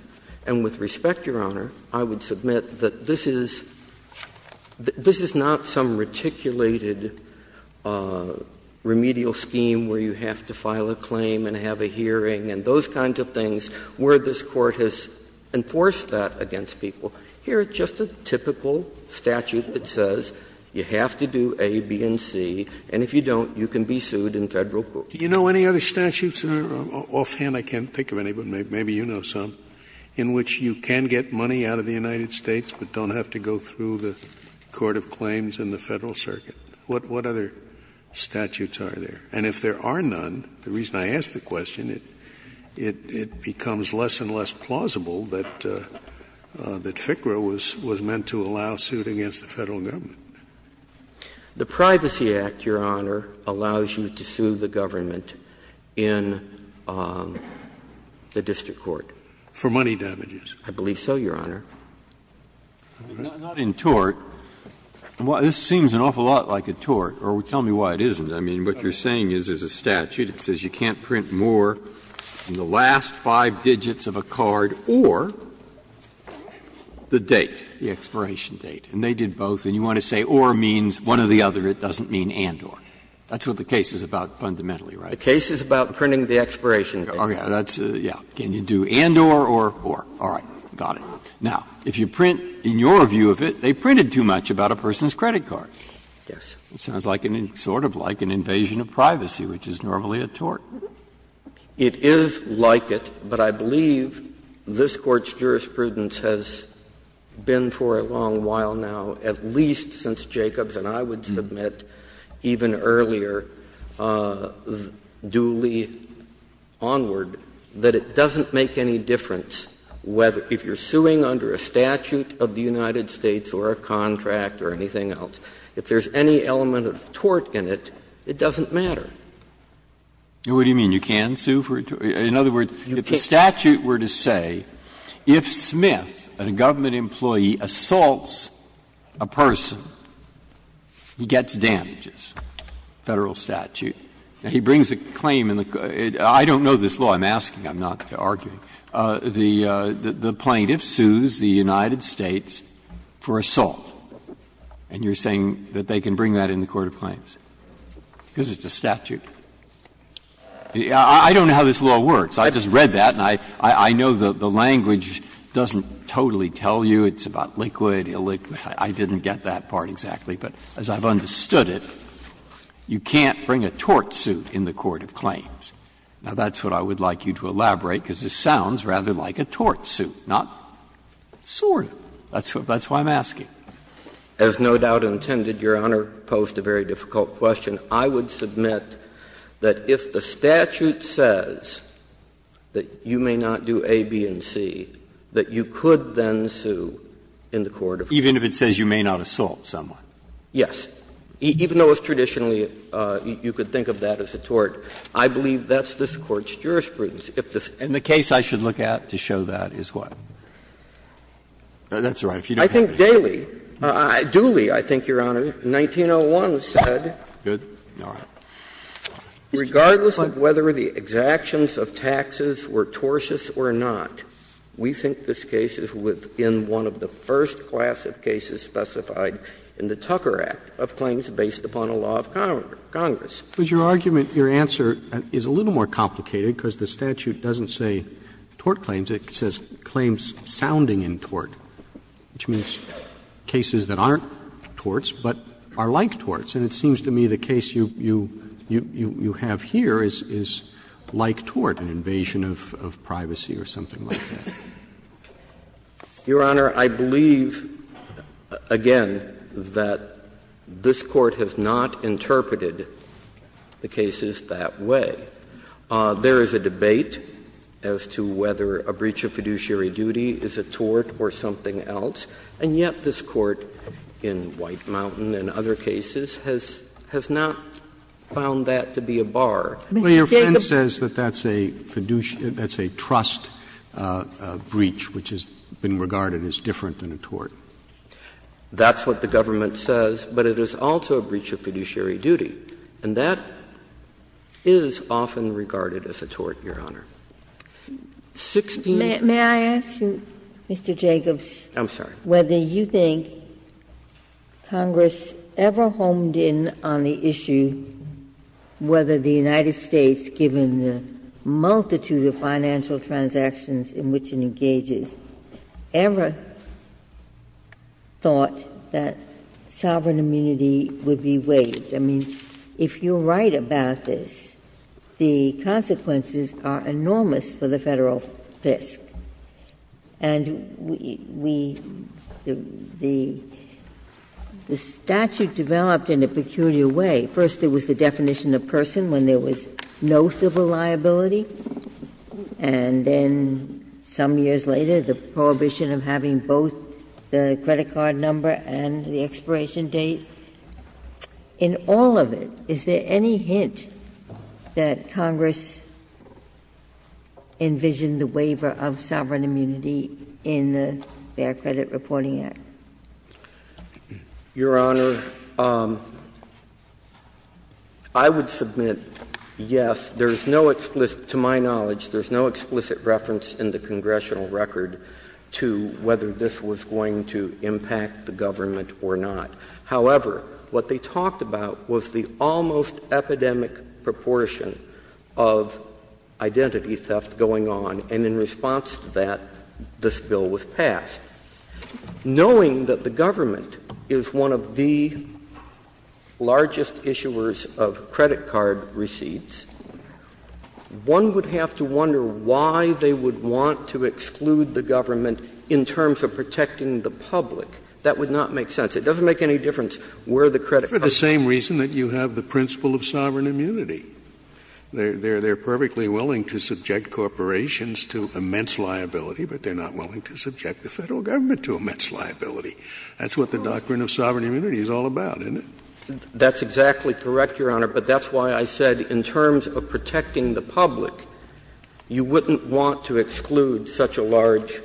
And with respect, Your Honor, I would submit that this is not some reticulated remedial scheme where you have to file a claim and have a hearing and those kinds of things where this Court has enforced that against people. Here, it's just a typical statute that says you have to do A, B, and C, and if you don't, you can be sued in Federal court. Do you know any other statutes, Your Honor? Offhand, I can't think of any, but maybe you know some, in which you can get money out of the United States but don't have to go through the court of claims in the Federal Circuit. What other statutes are there? And if there are none, the reason I ask the question, it becomes less and less plausible that FCRA was meant to allow suit against the Federal Government. The Privacy Act, Your Honor, allows you to sue the government in the district court. For money damages. I believe so, Your Honor. Not in tort. This seems an awful lot like a tort. Or tell me why it isn't. I mean, what you're saying is there's a statute that says you can't print more than the last five digits of a card or the date, the expiration date. And they did both. And you want to say or means one or the other. It doesn't mean and or. That's what the case is about fundamentally, right? The case is about printing the expiration date. Okay. That's the one. Can you do and or or? All right. Got it. Now, if you print, in your view of it, they printed too much about a person's credit card. Yes. It sounds like an sort of like an invasion of privacy, which is normally a tort. It is like it, but I believe this Court's jurisprudence has been for a long while now, at least since Jacobs and I would submit even earlier, Dooley onward, that it doesn't make any difference whether if you're suing under a statute of the United States or a contract or anything else, if there's any element of tort in it, it doesn't matter. What do you mean? You can sue for a tort? In other words, if the statute were to say if Smith, a government employee, assaults a person, he gets damages, Federal statute, and he brings a claim in the Court of Claims of the United States, I don't know this law, I'm asking, I'm not arguing, the plaintiff sues the United States for assault, and you're saying that they can bring that in the Court of Claims because it's a statute? I don't know how this law works. I just read that, and I know the language doesn't totally tell you. It's about liquid, illiquid. I didn't get that part exactly, but as I've understood it, you can't bring a tort suit in the Court of Claims. Now, that's what I would like you to elaborate, because this sounds rather like a tort suit, not sort of. That's why I'm asking. As no doubt intended, Your Honor posed a very difficult question. I would submit that if the statute says that you may not do A, B, and C, that you could then sue in the Court of Claims. Even if it says you may not assault someone? Yes. Even though it's traditionally you could think of that as a tort, I believe that's this Court's jurisprudence. And the case I should look at to show that is what? That's all right. I think Dooley, I think, Your Honor, in 1901 said, regardless of whether the exactions of taxes were tortious or not, we think this case is within one of the first class of cases specified in the Tucker Act of claims based upon a law of Congress. Roberts, your argument, your answer is a little more complicated, because the statute doesn't say tort claims. It says claims sounding in tort, which means cases that aren't torts but are like torts. And it seems to me the case you have here is like tort, an invasion of privacy or something like that. Your Honor, I believe, again, that this Court has not interpreted the cases that way. There is a debate as to whether a breach of fiduciary duty is a tort or something else, and yet this Court in White Mountain and other cases has not found that to be a bar. Sotomayor says that that's a fiduciary – that's a trust breach, which has been regarded as different than a tort. That's what the government says, but it is also a breach of fiduciary duty, and that is often regarded as a tort, Your Honor. I'm sorry. Ginsburg. Whether you think Congress ever honed in on the issue whether the United States, given the multitude of financial transactions in which it engages, ever thought that sovereign immunity would be waived. I mean, if you're right about this, the consequences are enormous for the Federal Fisk, and we – the statute developed in a peculiar way. First, there was the definition of person when there was no civil liability, and then some years later, the prohibition of having both the credit card number and the expiration date. In all of it, is there any hint that Congress envisioned the waiver of sovereign immunity in the Fair Credit Reporting Act? Your Honor, I would submit yes. There is no explicit – to my knowledge, there is no explicit reference in the congressional record to whether this was going to impact the government or not. However, what they talked about was the almost epidemic proportion of identity theft going on, and in response to that, this bill was passed. Knowing that the government is one of the largest issuers of credit card receipts, one would have to wonder why they would want to exclude the government in terms of protecting the public. That would not make sense. It doesn't make any difference where the credit card is. Scalia, for the same reason that you have the principle of sovereign immunity. They're perfectly willing to subject corporations to immense liability, but they're not willing to subject the Federal Government to immense liability. That's what the doctrine of sovereign immunity is all about, isn't it? That's exactly correct, Your Honor, but that's why I said in terms of protecting the public, you wouldn't want to exclude such a large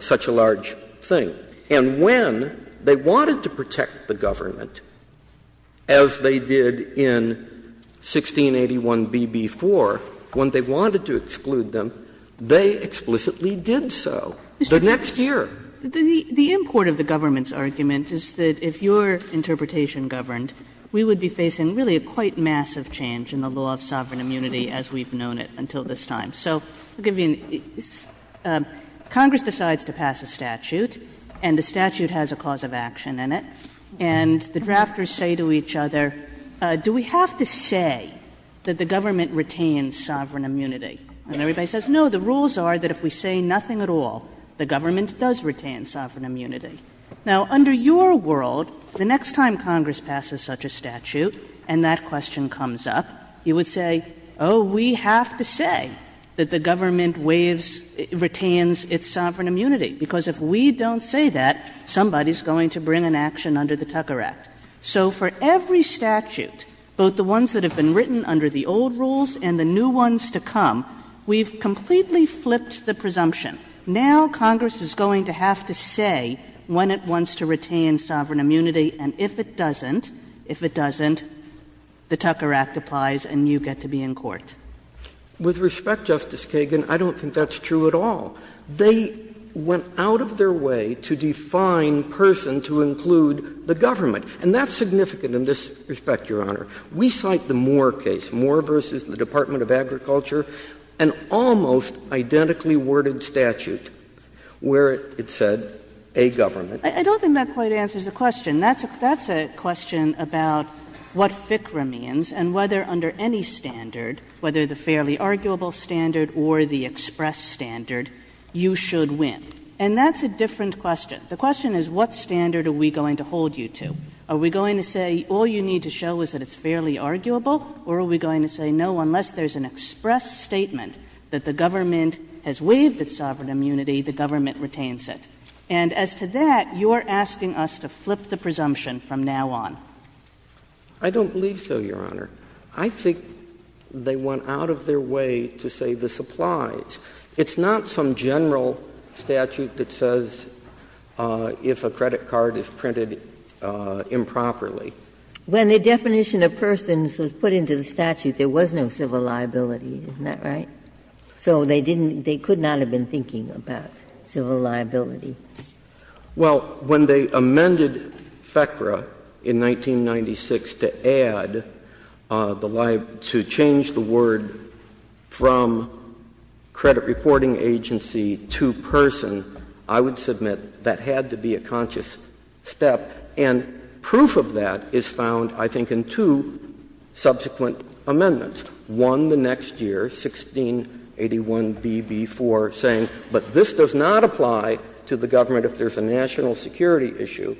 – such a large thing. And when they wanted to protect the government, as they did in 1681BB4, when they wanted to exclude them, they explicitly did so. The next year. The import of the government's argument is that if your interpretation governed, we would be facing really a quite massive change in the law of sovereign immunity as we've known it until this time. So Congress decides to pass a statute, and the statute has a cause of action in it. And the drafters say to each other, do we have to say that the government retains sovereign immunity? And everybody says, no, the rules are that if we say nothing at all, the government does retain sovereign immunity. Now, under your world, the next time Congress passes such a statute and that question comes up, you would say, oh, we have to say that the government waives – retains its sovereign immunity, because if we don't say that, somebody's going to bring an action under the Tucker Act. So for every statute, both the ones that have been written under the old rules and the new ones to come, we've completely flipped the presumption. Now Congress is going to have to say when it wants to retain sovereign immunity, and if it doesn't, if it doesn't, the Tucker Act applies and you get to be in court. With respect, Justice Kagan, I don't think that's true at all. They went out of their way to define person to include the government. And that's significant in this respect, Your Honor. We cite the Moore case, Moore v. the Department of Agriculture, an almost identically worded statute where it said, a government. I don't think that quite answers the question. That's a question about what FCRA means and whether under any standard, whether the fairly arguable standard or the express standard, you should win. And that's a different question. The question is, what standard are we going to hold you to? Are we going to say all you need to show is that it's fairly arguable, or are we going to say, no, unless there's an express statement that the government has waived its sovereign immunity, the government retains it? And as to that, you're asking us to flip the presumption from now on. I don't believe so, Your Honor. I think they went out of their way to say this applies. It's not some general statute that says if a credit card is printed improperly. When the definition of persons was put into the statute, there was no civil liability. Isn't that right? So they didn't, they could not have been thinking about civil liability. Well, when they amended FCRA in 1996 to add the liability, to change the word from credit reporting agency to person, I would submit that had to be a conscious step. And proof of that is found, I think, in two subsequent amendments, one the next year, 1681BB4, saying, but this does not apply to the government if there's a national security issue.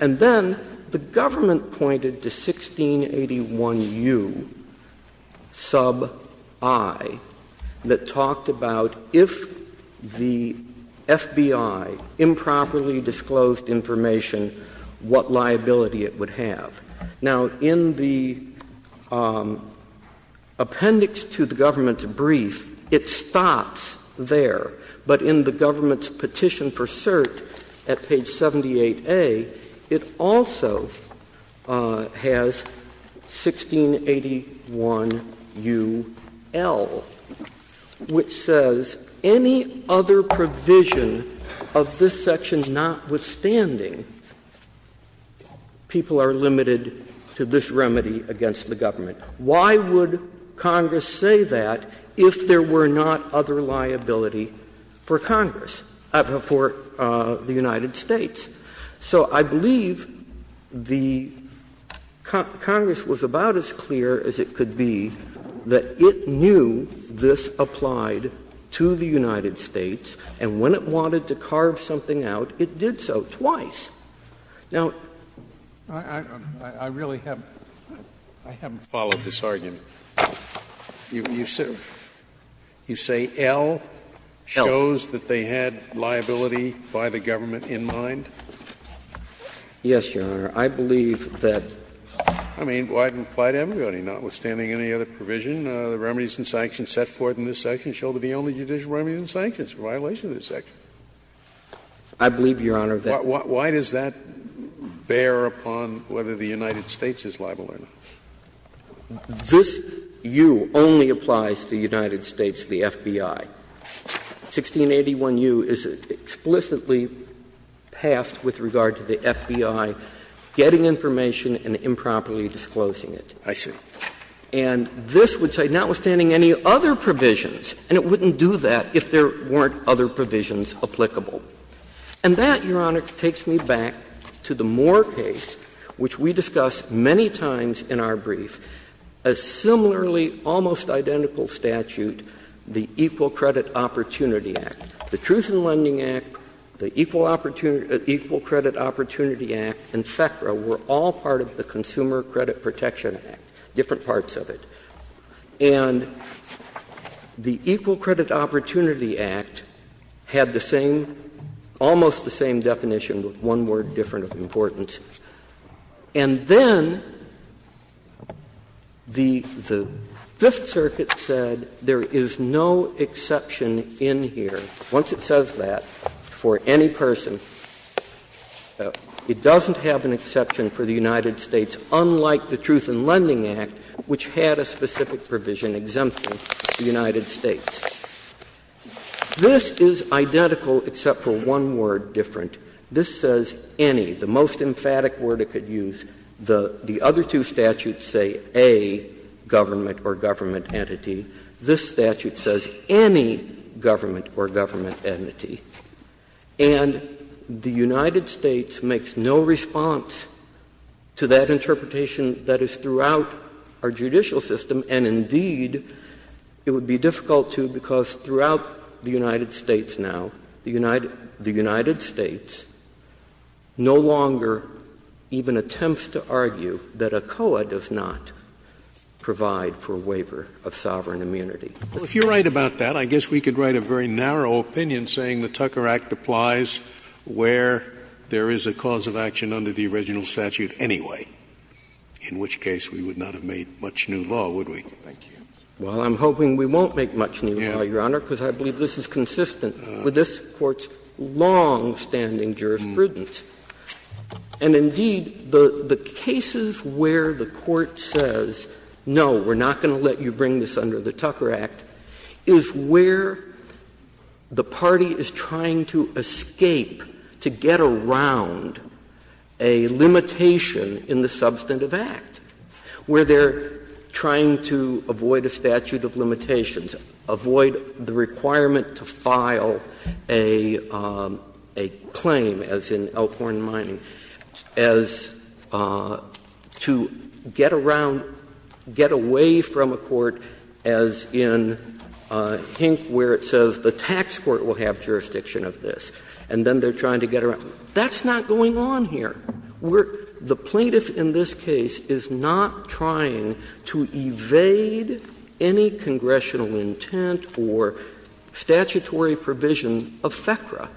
And then the government pointed to 1681U sub I that talked about if the FBI improperly disclosed information, what liability it would have. Now, in the appendix to the government's brief, it stops there. But in the government's petition for cert at page 78A, it also has 1681UL, which says any other provision of this section, notwithstanding, people are limited to this remedy against the government. Why would Congress say that if there were not other liability for Congress, for the United States? So I believe the Congress was about as clear as it could be that it knew this applied to the United States, and when it wanted to carve something out, it did so twice. Now, I really haven't followed this argument. You say L shows that they had liability by the government in mind? Yes, Your Honor. I believe that. I mean, it would apply to everybody, notwithstanding any other provision. The remedies and sanctions set forth in this section show to be only judicial remedies and sanctions, a violation of this section. I believe, Your Honor, that. Why does that bear upon whether the United States is liable or not? This U only applies to the United States, the FBI. 1681U is explicitly passed with regard to the FBI getting information and improperly disclosing it. I see. And this would say, notwithstanding any other provisions, and it wouldn't do that if there weren't other provisions applicable. And that, Your Honor, takes me back to the Moore case, which we discussed many times in our brief, a similarly almost identical statute, the Equal Credit Opportunity Act. The Truth in Lending Act, the Equal Credit Opportunity Act, and FECRA were all part of the Consumer Credit Protection Act. Different parts of it. And the Equal Credit Opportunity Act had the same, almost the same definition with one word different of importance. And then the Fifth Circuit said there is no exception in here. Once it says that for any person, it doesn't have an exception for the United States. Unlike the Truth in Lending Act, which had a specific provision exempting the United States. This is identical except for one word different. This says, any, the most emphatic word it could use. The other two statutes say, A, government or government entity. This statute says, any government or government entity. And the United States makes no response to that interpretation that is throughout our judicial system, and indeed, it would be difficult to because throughout the United States now, the United States no longer even attempts to argue that ACOA does not provide for waiver of sovereign immunity. Scalia. If you are right about that, I guess we could write a very narrow opinion saying the Tucker Act applies where there is a cause of action under the original statute anyway, in which case we would not have made much new law, would we? Thank you. Well, I'm hoping we won't make much new law, Your Honor, because I believe this is consistent with this Court's longstanding jurisprudence. And indeed, the cases where the Court says, no, we are not going to let you bring this under the Tucker Act, is where the party is trying to escape, to get around a limitation in the substantive act, where they are trying to avoid a statute of limitations, avoid the requirement to file a claim, as in Elkhorn Mining, as to get around, get away from a court that is trying to get around a limitation as in Hink, where it says the tax court will have jurisdiction of this, and then they are trying to get around. That's not going on here. We're — the plaintiff in this case is not trying to evade any congressional intent or statutory provision of FECRA.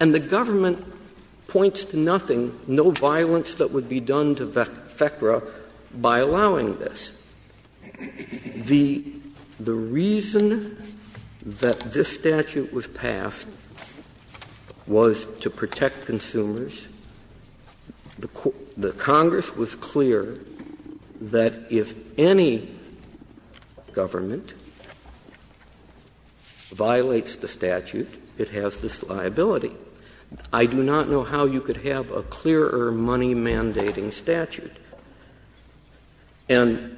And the government points to nothing, no violence that would be done to FECRA by allowing this. The reason that this statute was passed was to protect consumers. The Congress was clear that if any government violates the statute, it has this liability. I do not know how you could have a clearer money-mandating statute. And,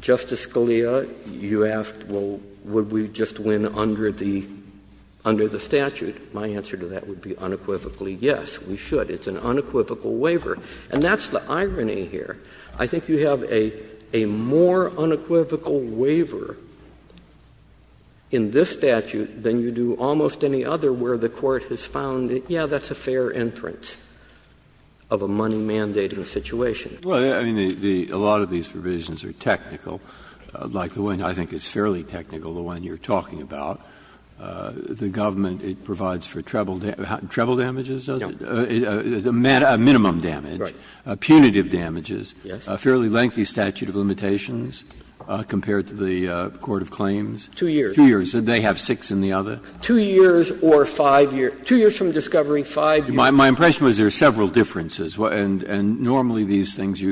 Justice Scalia, you asked, well, would we just win under the statute? My answer to that would be unequivocally, yes, we should. It's an unequivocal waiver. And that's the irony here. I think you have a more unequivocal waiver in this statute than you do almost any other where the court has found, yes, that's a fair inference of a money-mandating statute in a situation. Breyer. Well, I mean, a lot of these provisions are technical, like the one I think is fairly technical, the one you're talking about. The government, it provides for treble damages, does it? No. Minimum damage, punitive damages, a fairly lengthy statute of limitations compared to the court of claims. Two years. Two years. They have six in the other. Two years or five years. Two years from discovery, five years. My impression was there are several differences. And normally these things,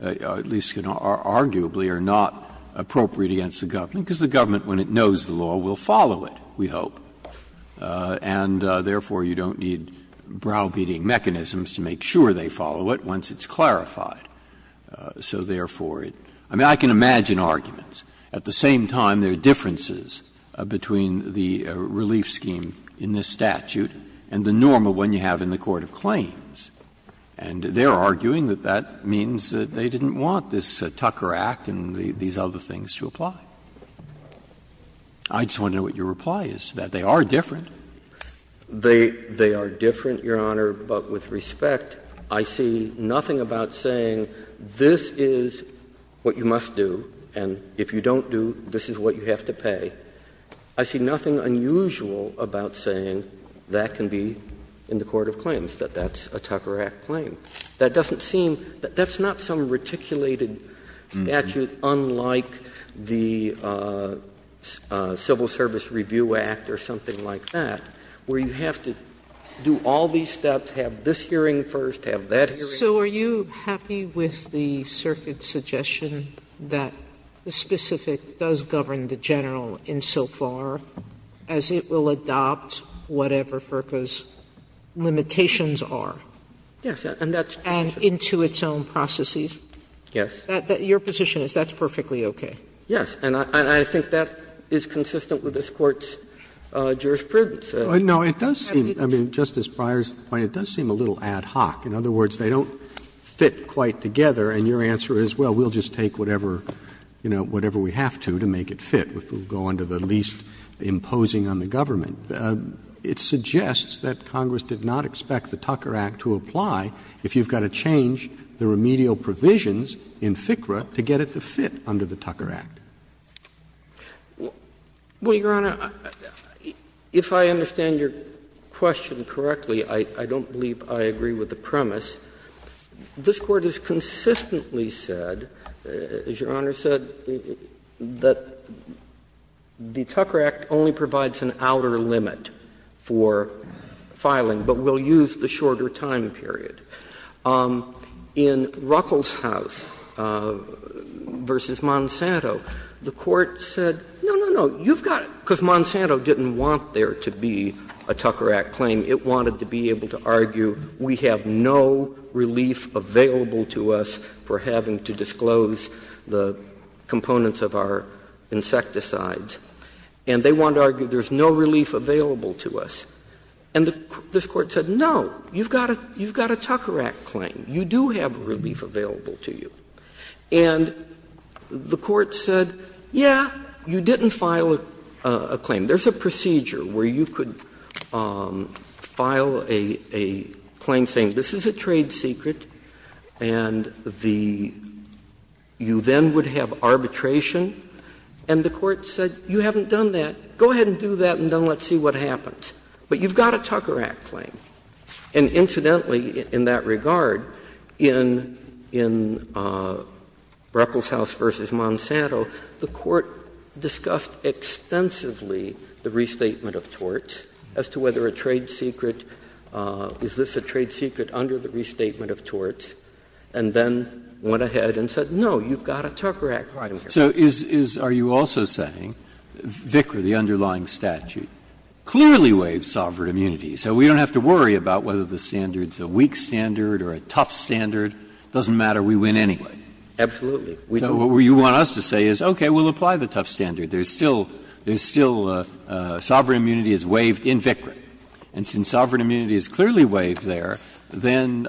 at least arguably, are not appropriate against the government, because the government, when it knows the law, will follow it, we hope. And therefore, you don't need brow-beating mechanisms to make sure they follow it once it's clarified. So therefore, I mean, I can imagine arguments. At the same time, there are differences between the relief scheme in this statute and the normal one you have in the court of claims. And they are arguing that that means that they didn't want this Tucker Act and these other things to apply. I just want to know what your reply is to that. They are different. They are different, Your Honor, but with respect, I see nothing about saying this is what you must do, and if you don't do, this is what you have to pay. And I see nothing unusual about saying that can be in the court of claims, that that's a Tucker Act claim. That doesn't seem — that's not some reticulated statute unlike the Civil Service Review Act or something like that, where you have to do all these steps, have this hearing first, have that hearing. Sotomayor So are you happy with the circuit's suggestion that the specific does govern the general insofar as it will adopt whatever FERCA's limitations are? And into its own processes? Yes. Your position is that's perfectly okay? Yes. And I think that is consistent with this Court's jurisprudence. Roberts No, it does seem, I mean, Justice Breyer's point, it does seem a little ad hoc. In other words, they don't fit quite together, and your answer is, well, we'll just take whatever, you know, whatever we have to, to make it fit, if we'll go under the least imposing on the government. It suggests that Congress did not expect the Tucker Act to apply if you've got to change the remedial provisions in FCRA to get it to fit under the Tucker Act. Well, Your Honor, if I understand your question correctly, I don't believe I agree with the premise. This Court has consistently said, as Your Honor said, that the Tucker Act only provides an outer limit for filing, but will use the shorter time period. In Ruckelshaus v. Monsanto, the Court said, no, no, no, you've got to do it, because Monsanto didn't want there to be a Tucker Act claim. It wanted to be able to argue, we have no relief available to us for having to disclose the components of our insecticides, and they want to argue there's no relief available to us. And this Court said, no, you've got a Tucker Act claim, you do have relief available to you. And the Court said, yeah, you didn't file a claim. There's a procedure where you could file a claim saying, this is a trade secret and the — you then would have arbitration, and the Court said, you haven't done that, go ahead and do that and then let's see what happens. But you've got a Tucker Act claim. And incidentally, in that regard, in Ruckelshaus v. Monsanto, the Court discussed extensively the restatement of torts, as to whether a trade secret — is this a trade secret under the restatement of torts, and then went ahead and said, no, you've got a Tucker Act claim. Breyer. So is — are you also saying, VCRA, the underlying statute, clearly waives sovereign immunity, so we don't have to worry about whether the standard's a weak standard or a tough standard, doesn't matter, we win anyway? Absolutely. So what you want us to say is, okay, we'll apply the tough standard. There's still — there's still sovereign immunity is waived in VCRA. And since sovereign immunity is clearly waived there, then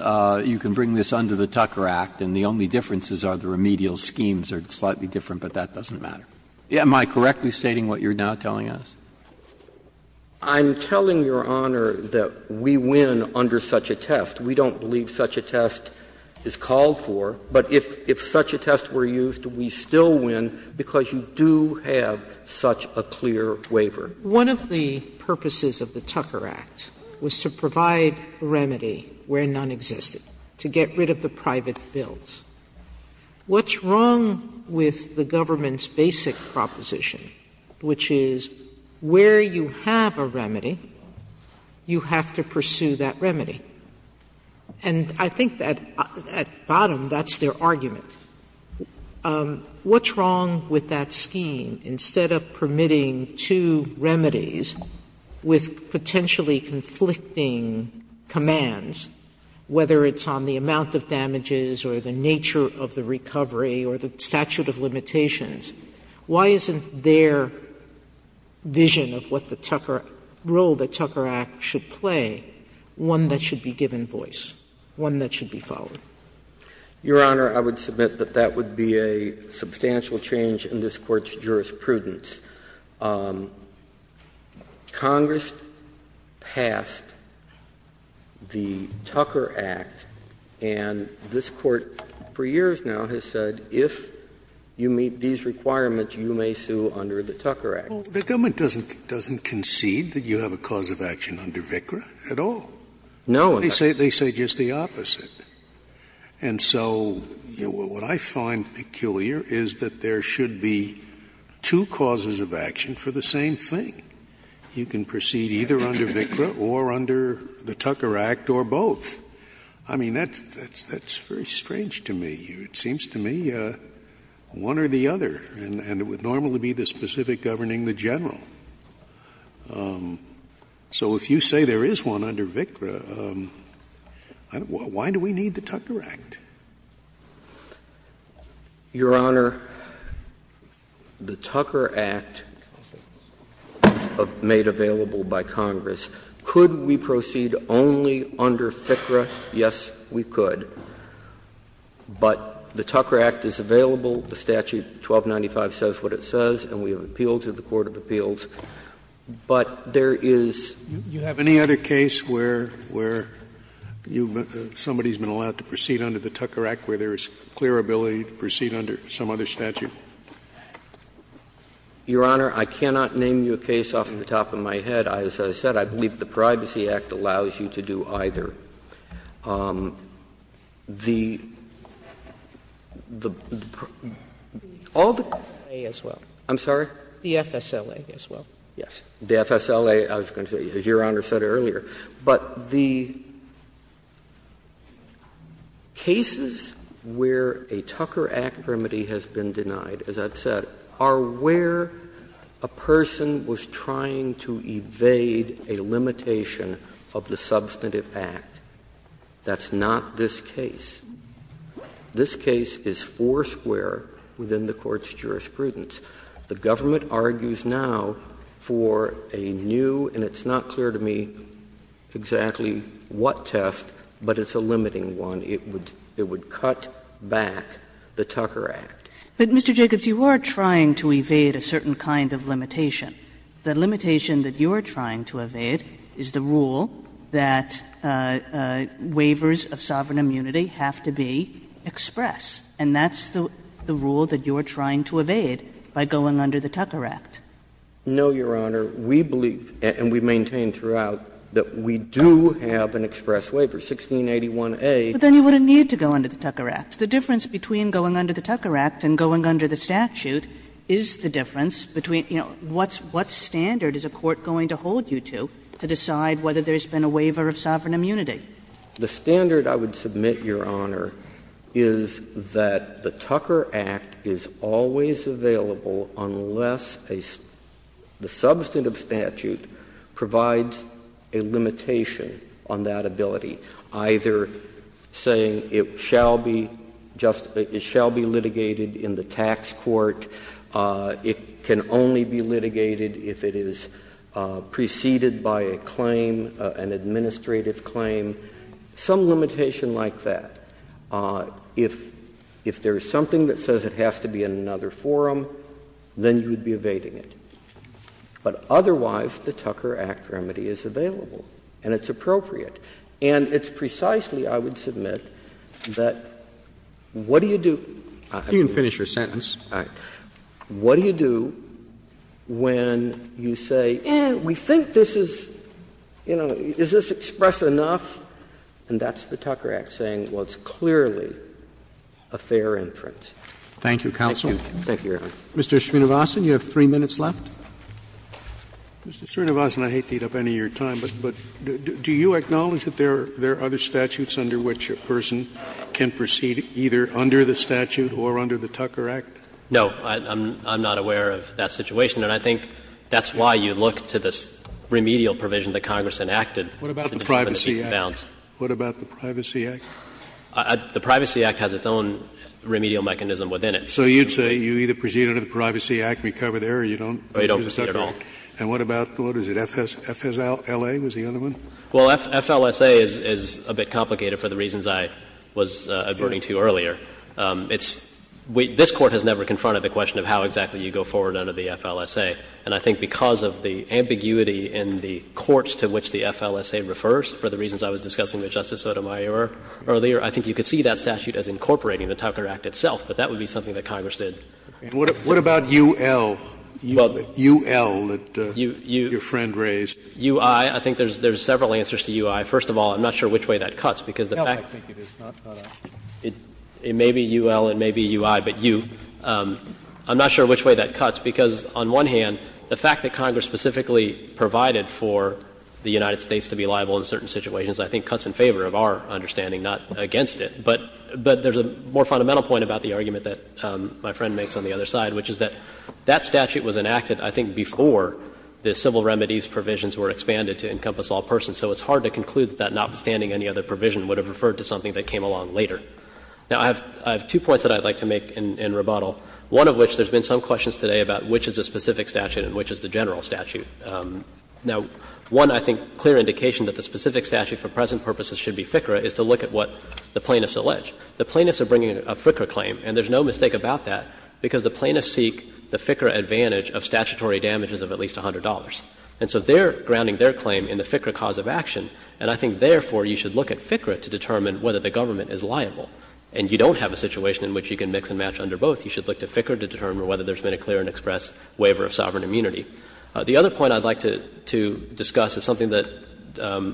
you can bring this under the Tucker Act, and the only differences are the remedial schemes are slightly different, but that doesn't matter. Am I correctly stating what you're now telling us? I'm telling Your Honor that we win under such a test. We don't believe such a test is called for. But if such a test were used, we still win, because you do have such a clear waiver. One of the purposes of the Tucker Act was to provide a remedy where none existed, to get rid of the private bills. What's wrong with the government's basic proposition, which is where you have a remedy, you have to pursue that remedy? And I think that, at bottom, that's their argument. What's wrong with that scheme? Instead of permitting two remedies with potentially conflicting commands, whether it's on the amount of damages or the nature of the recovery or the statute of limitations, why isn't their vision of what the Tucker — role the Tucker Act should play, one that should be given voice, one that should be followed? Your Honor, I would submit that that would be a substantial change in this Court's jurisprudence. Congress passed the Tucker Act, and this Court for years now has said if you meet these requirements, you may sue under the Tucker Act. Scalia. The government doesn't concede that you have a cause of action under VICRA at all. They say just the opposite. And so what I find peculiar is that there should be two causes of action for the same thing. You can proceed either under VICRA or under the Tucker Act or both. I mean, that's very strange to me. It seems to me one or the other. And it would normally be the specific governing the general. So if you say there is one under VICRA, why do we need the Tucker Act? Your Honor, the Tucker Act is made available by Congress. Could we proceed only under VICRA? Yes, we could. But the Tucker Act is available. The statute 1295 says what it says, and we have appealed to the court of appeals. But there is you have any other case where you somebody has been allowed to proceed under the Tucker Act where there is clear ability to proceed under some other statute? Your Honor, I cannot name you a case off the top of my head. As I said, I believe the Privacy Act allows you to do either. The all the cases where a Tucker Act remedy has been denied, as I've said, are where a person was trying to evade a limitation of the substantive act. That's not this case. This case is foursquare within the Court's jurisprudence. The government argues now for a new, and it's not clear to me exactly what test, but it's a limiting one. It would cut back the Tucker Act. But, Mr. Jacobs, you are trying to evade a certain kind of limitation. The limitation that you are trying to evade is the rule that waivers of sovereign immunity have to be express, and that's the rule that you are trying to evade by going under the Tucker Act. No, Your Honor. We believe, and we maintain throughout, that we do have an express waiver, 1681a. But then you wouldn't need to go under the Tucker Act. The difference between going under the Tucker Act and going under the statute is the difference between, you know, what standard is a court going to hold you to, to decide whether there's been a waiver of sovereign immunity? The standard, I would submit, Your Honor, is that the Tucker Act is always available unless the substantive statute provides a limitation on that ability, either saying it shall be just — it shall be litigated in the tax court, it can only be litigated if it is preceded by a claim, an administrative claim, some limitation like that. If there is something that says it has to be in another forum, then you would be evading it. But otherwise, the Tucker Act remedy is available, and it's appropriate. And it's precisely, I would submit, that what do you do — You can finish your sentence. All right. What do you do when you say, eh, we think this is, you know, is this express enough? And that's the Tucker Act saying, well, it's clearly a fair inference. Thank you, counsel. Thank you, Your Honor. Mr. Srinivasan, you have three minutes left. Mr. Srinivasan, I hate to eat up any of your time, but do you acknowledge that there are other statutes under which a person can proceed either under the statute or under the Tucker Act? No. I'm not aware of that situation. And I think that's why you look to this remedial provision that Congress enacted in the Peace and Balance. What about the Privacy Act? The Privacy Act has its own remedial mechanism within it. So you'd say you either proceed under the Privacy Act and recover the error, or you don't proceed at all. And what about, what is it, FSLA was the other one? Well, FLSA is a bit complicated for the reasons I was adverting to earlier. It's — this Court has never confronted the question of how exactly you go forward under the FLSA. And I think because of the ambiguity in the courts to which the FLSA refers, for the reasons I was discussing with Justice Sotomayor earlier, I think you could see that statute as incorporating the Tucker Act itself. But that would be something that Congress did. What about UL? UL that your friend raised? UI, I think there's several answers to UI. First of all, I'm not sure which way that cuts, because the fact that it is not UL and maybe UI, but U, I'm not sure which way that cuts, because on one hand, the fact that Congress specifically provided for the United States to be liable in certain situations, I think, cuts in favor of our understanding, not against it. But there's a more fundamental point about the argument that my friend makes on the other side, which is that that statute was enacted, I think, before the civil remedies provisions were expanded to encompass all persons. So it's hard to conclude that notwithstanding any other provision would have referred to something that came along later. Now, I have two points that I'd like to make in rebuttal, one of which there's been some questions today about which is the specific statute and which is the general statute. Now, one, I think, clear indication that the specific statute for present purposes should be FCRA is to look at what the plaintiffs allege. The plaintiffs are bringing a FCRA claim, and there's no mistake about that, because the plaintiffs seek the FCRA advantage of statutory damages of at least $100. And so they're grounding their claim in the FCRA cause of action, and I think, therefore, you should look at FCRA to determine whether the government is liable. And you don't have a situation in which you can mix and match under both. You should look to FCRA to determine whether there's been a clear and express waiver of sovereign immunity. The other point I'd like to discuss is something that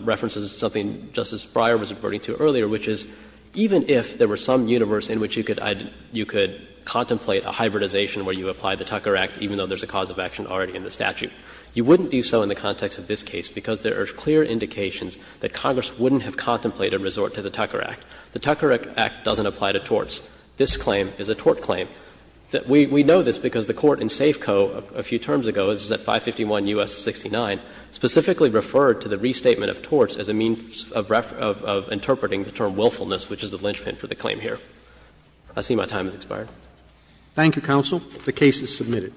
references something Justice Breyer was referring to earlier, which is even if there were some universe in which you could contemplate a hybridization where you apply the Tucker Act, even though there's a cause of action already in the statute, you wouldn't do so in the context of this case because there are clear indications that Congress wouldn't have contemplated a resort to the Tucker Act. The Tucker Act doesn't apply to torts. This claim is a tort claim. We know this because the Court in Safeco a few terms ago, this is at 551 U.S. 69, specifically referred to the restatement of torts as a means of interpreting the term willfulness, which is the linchpin for the claim here. I see my time has expired. Roberts. Thank you, counsel. The case is submitted.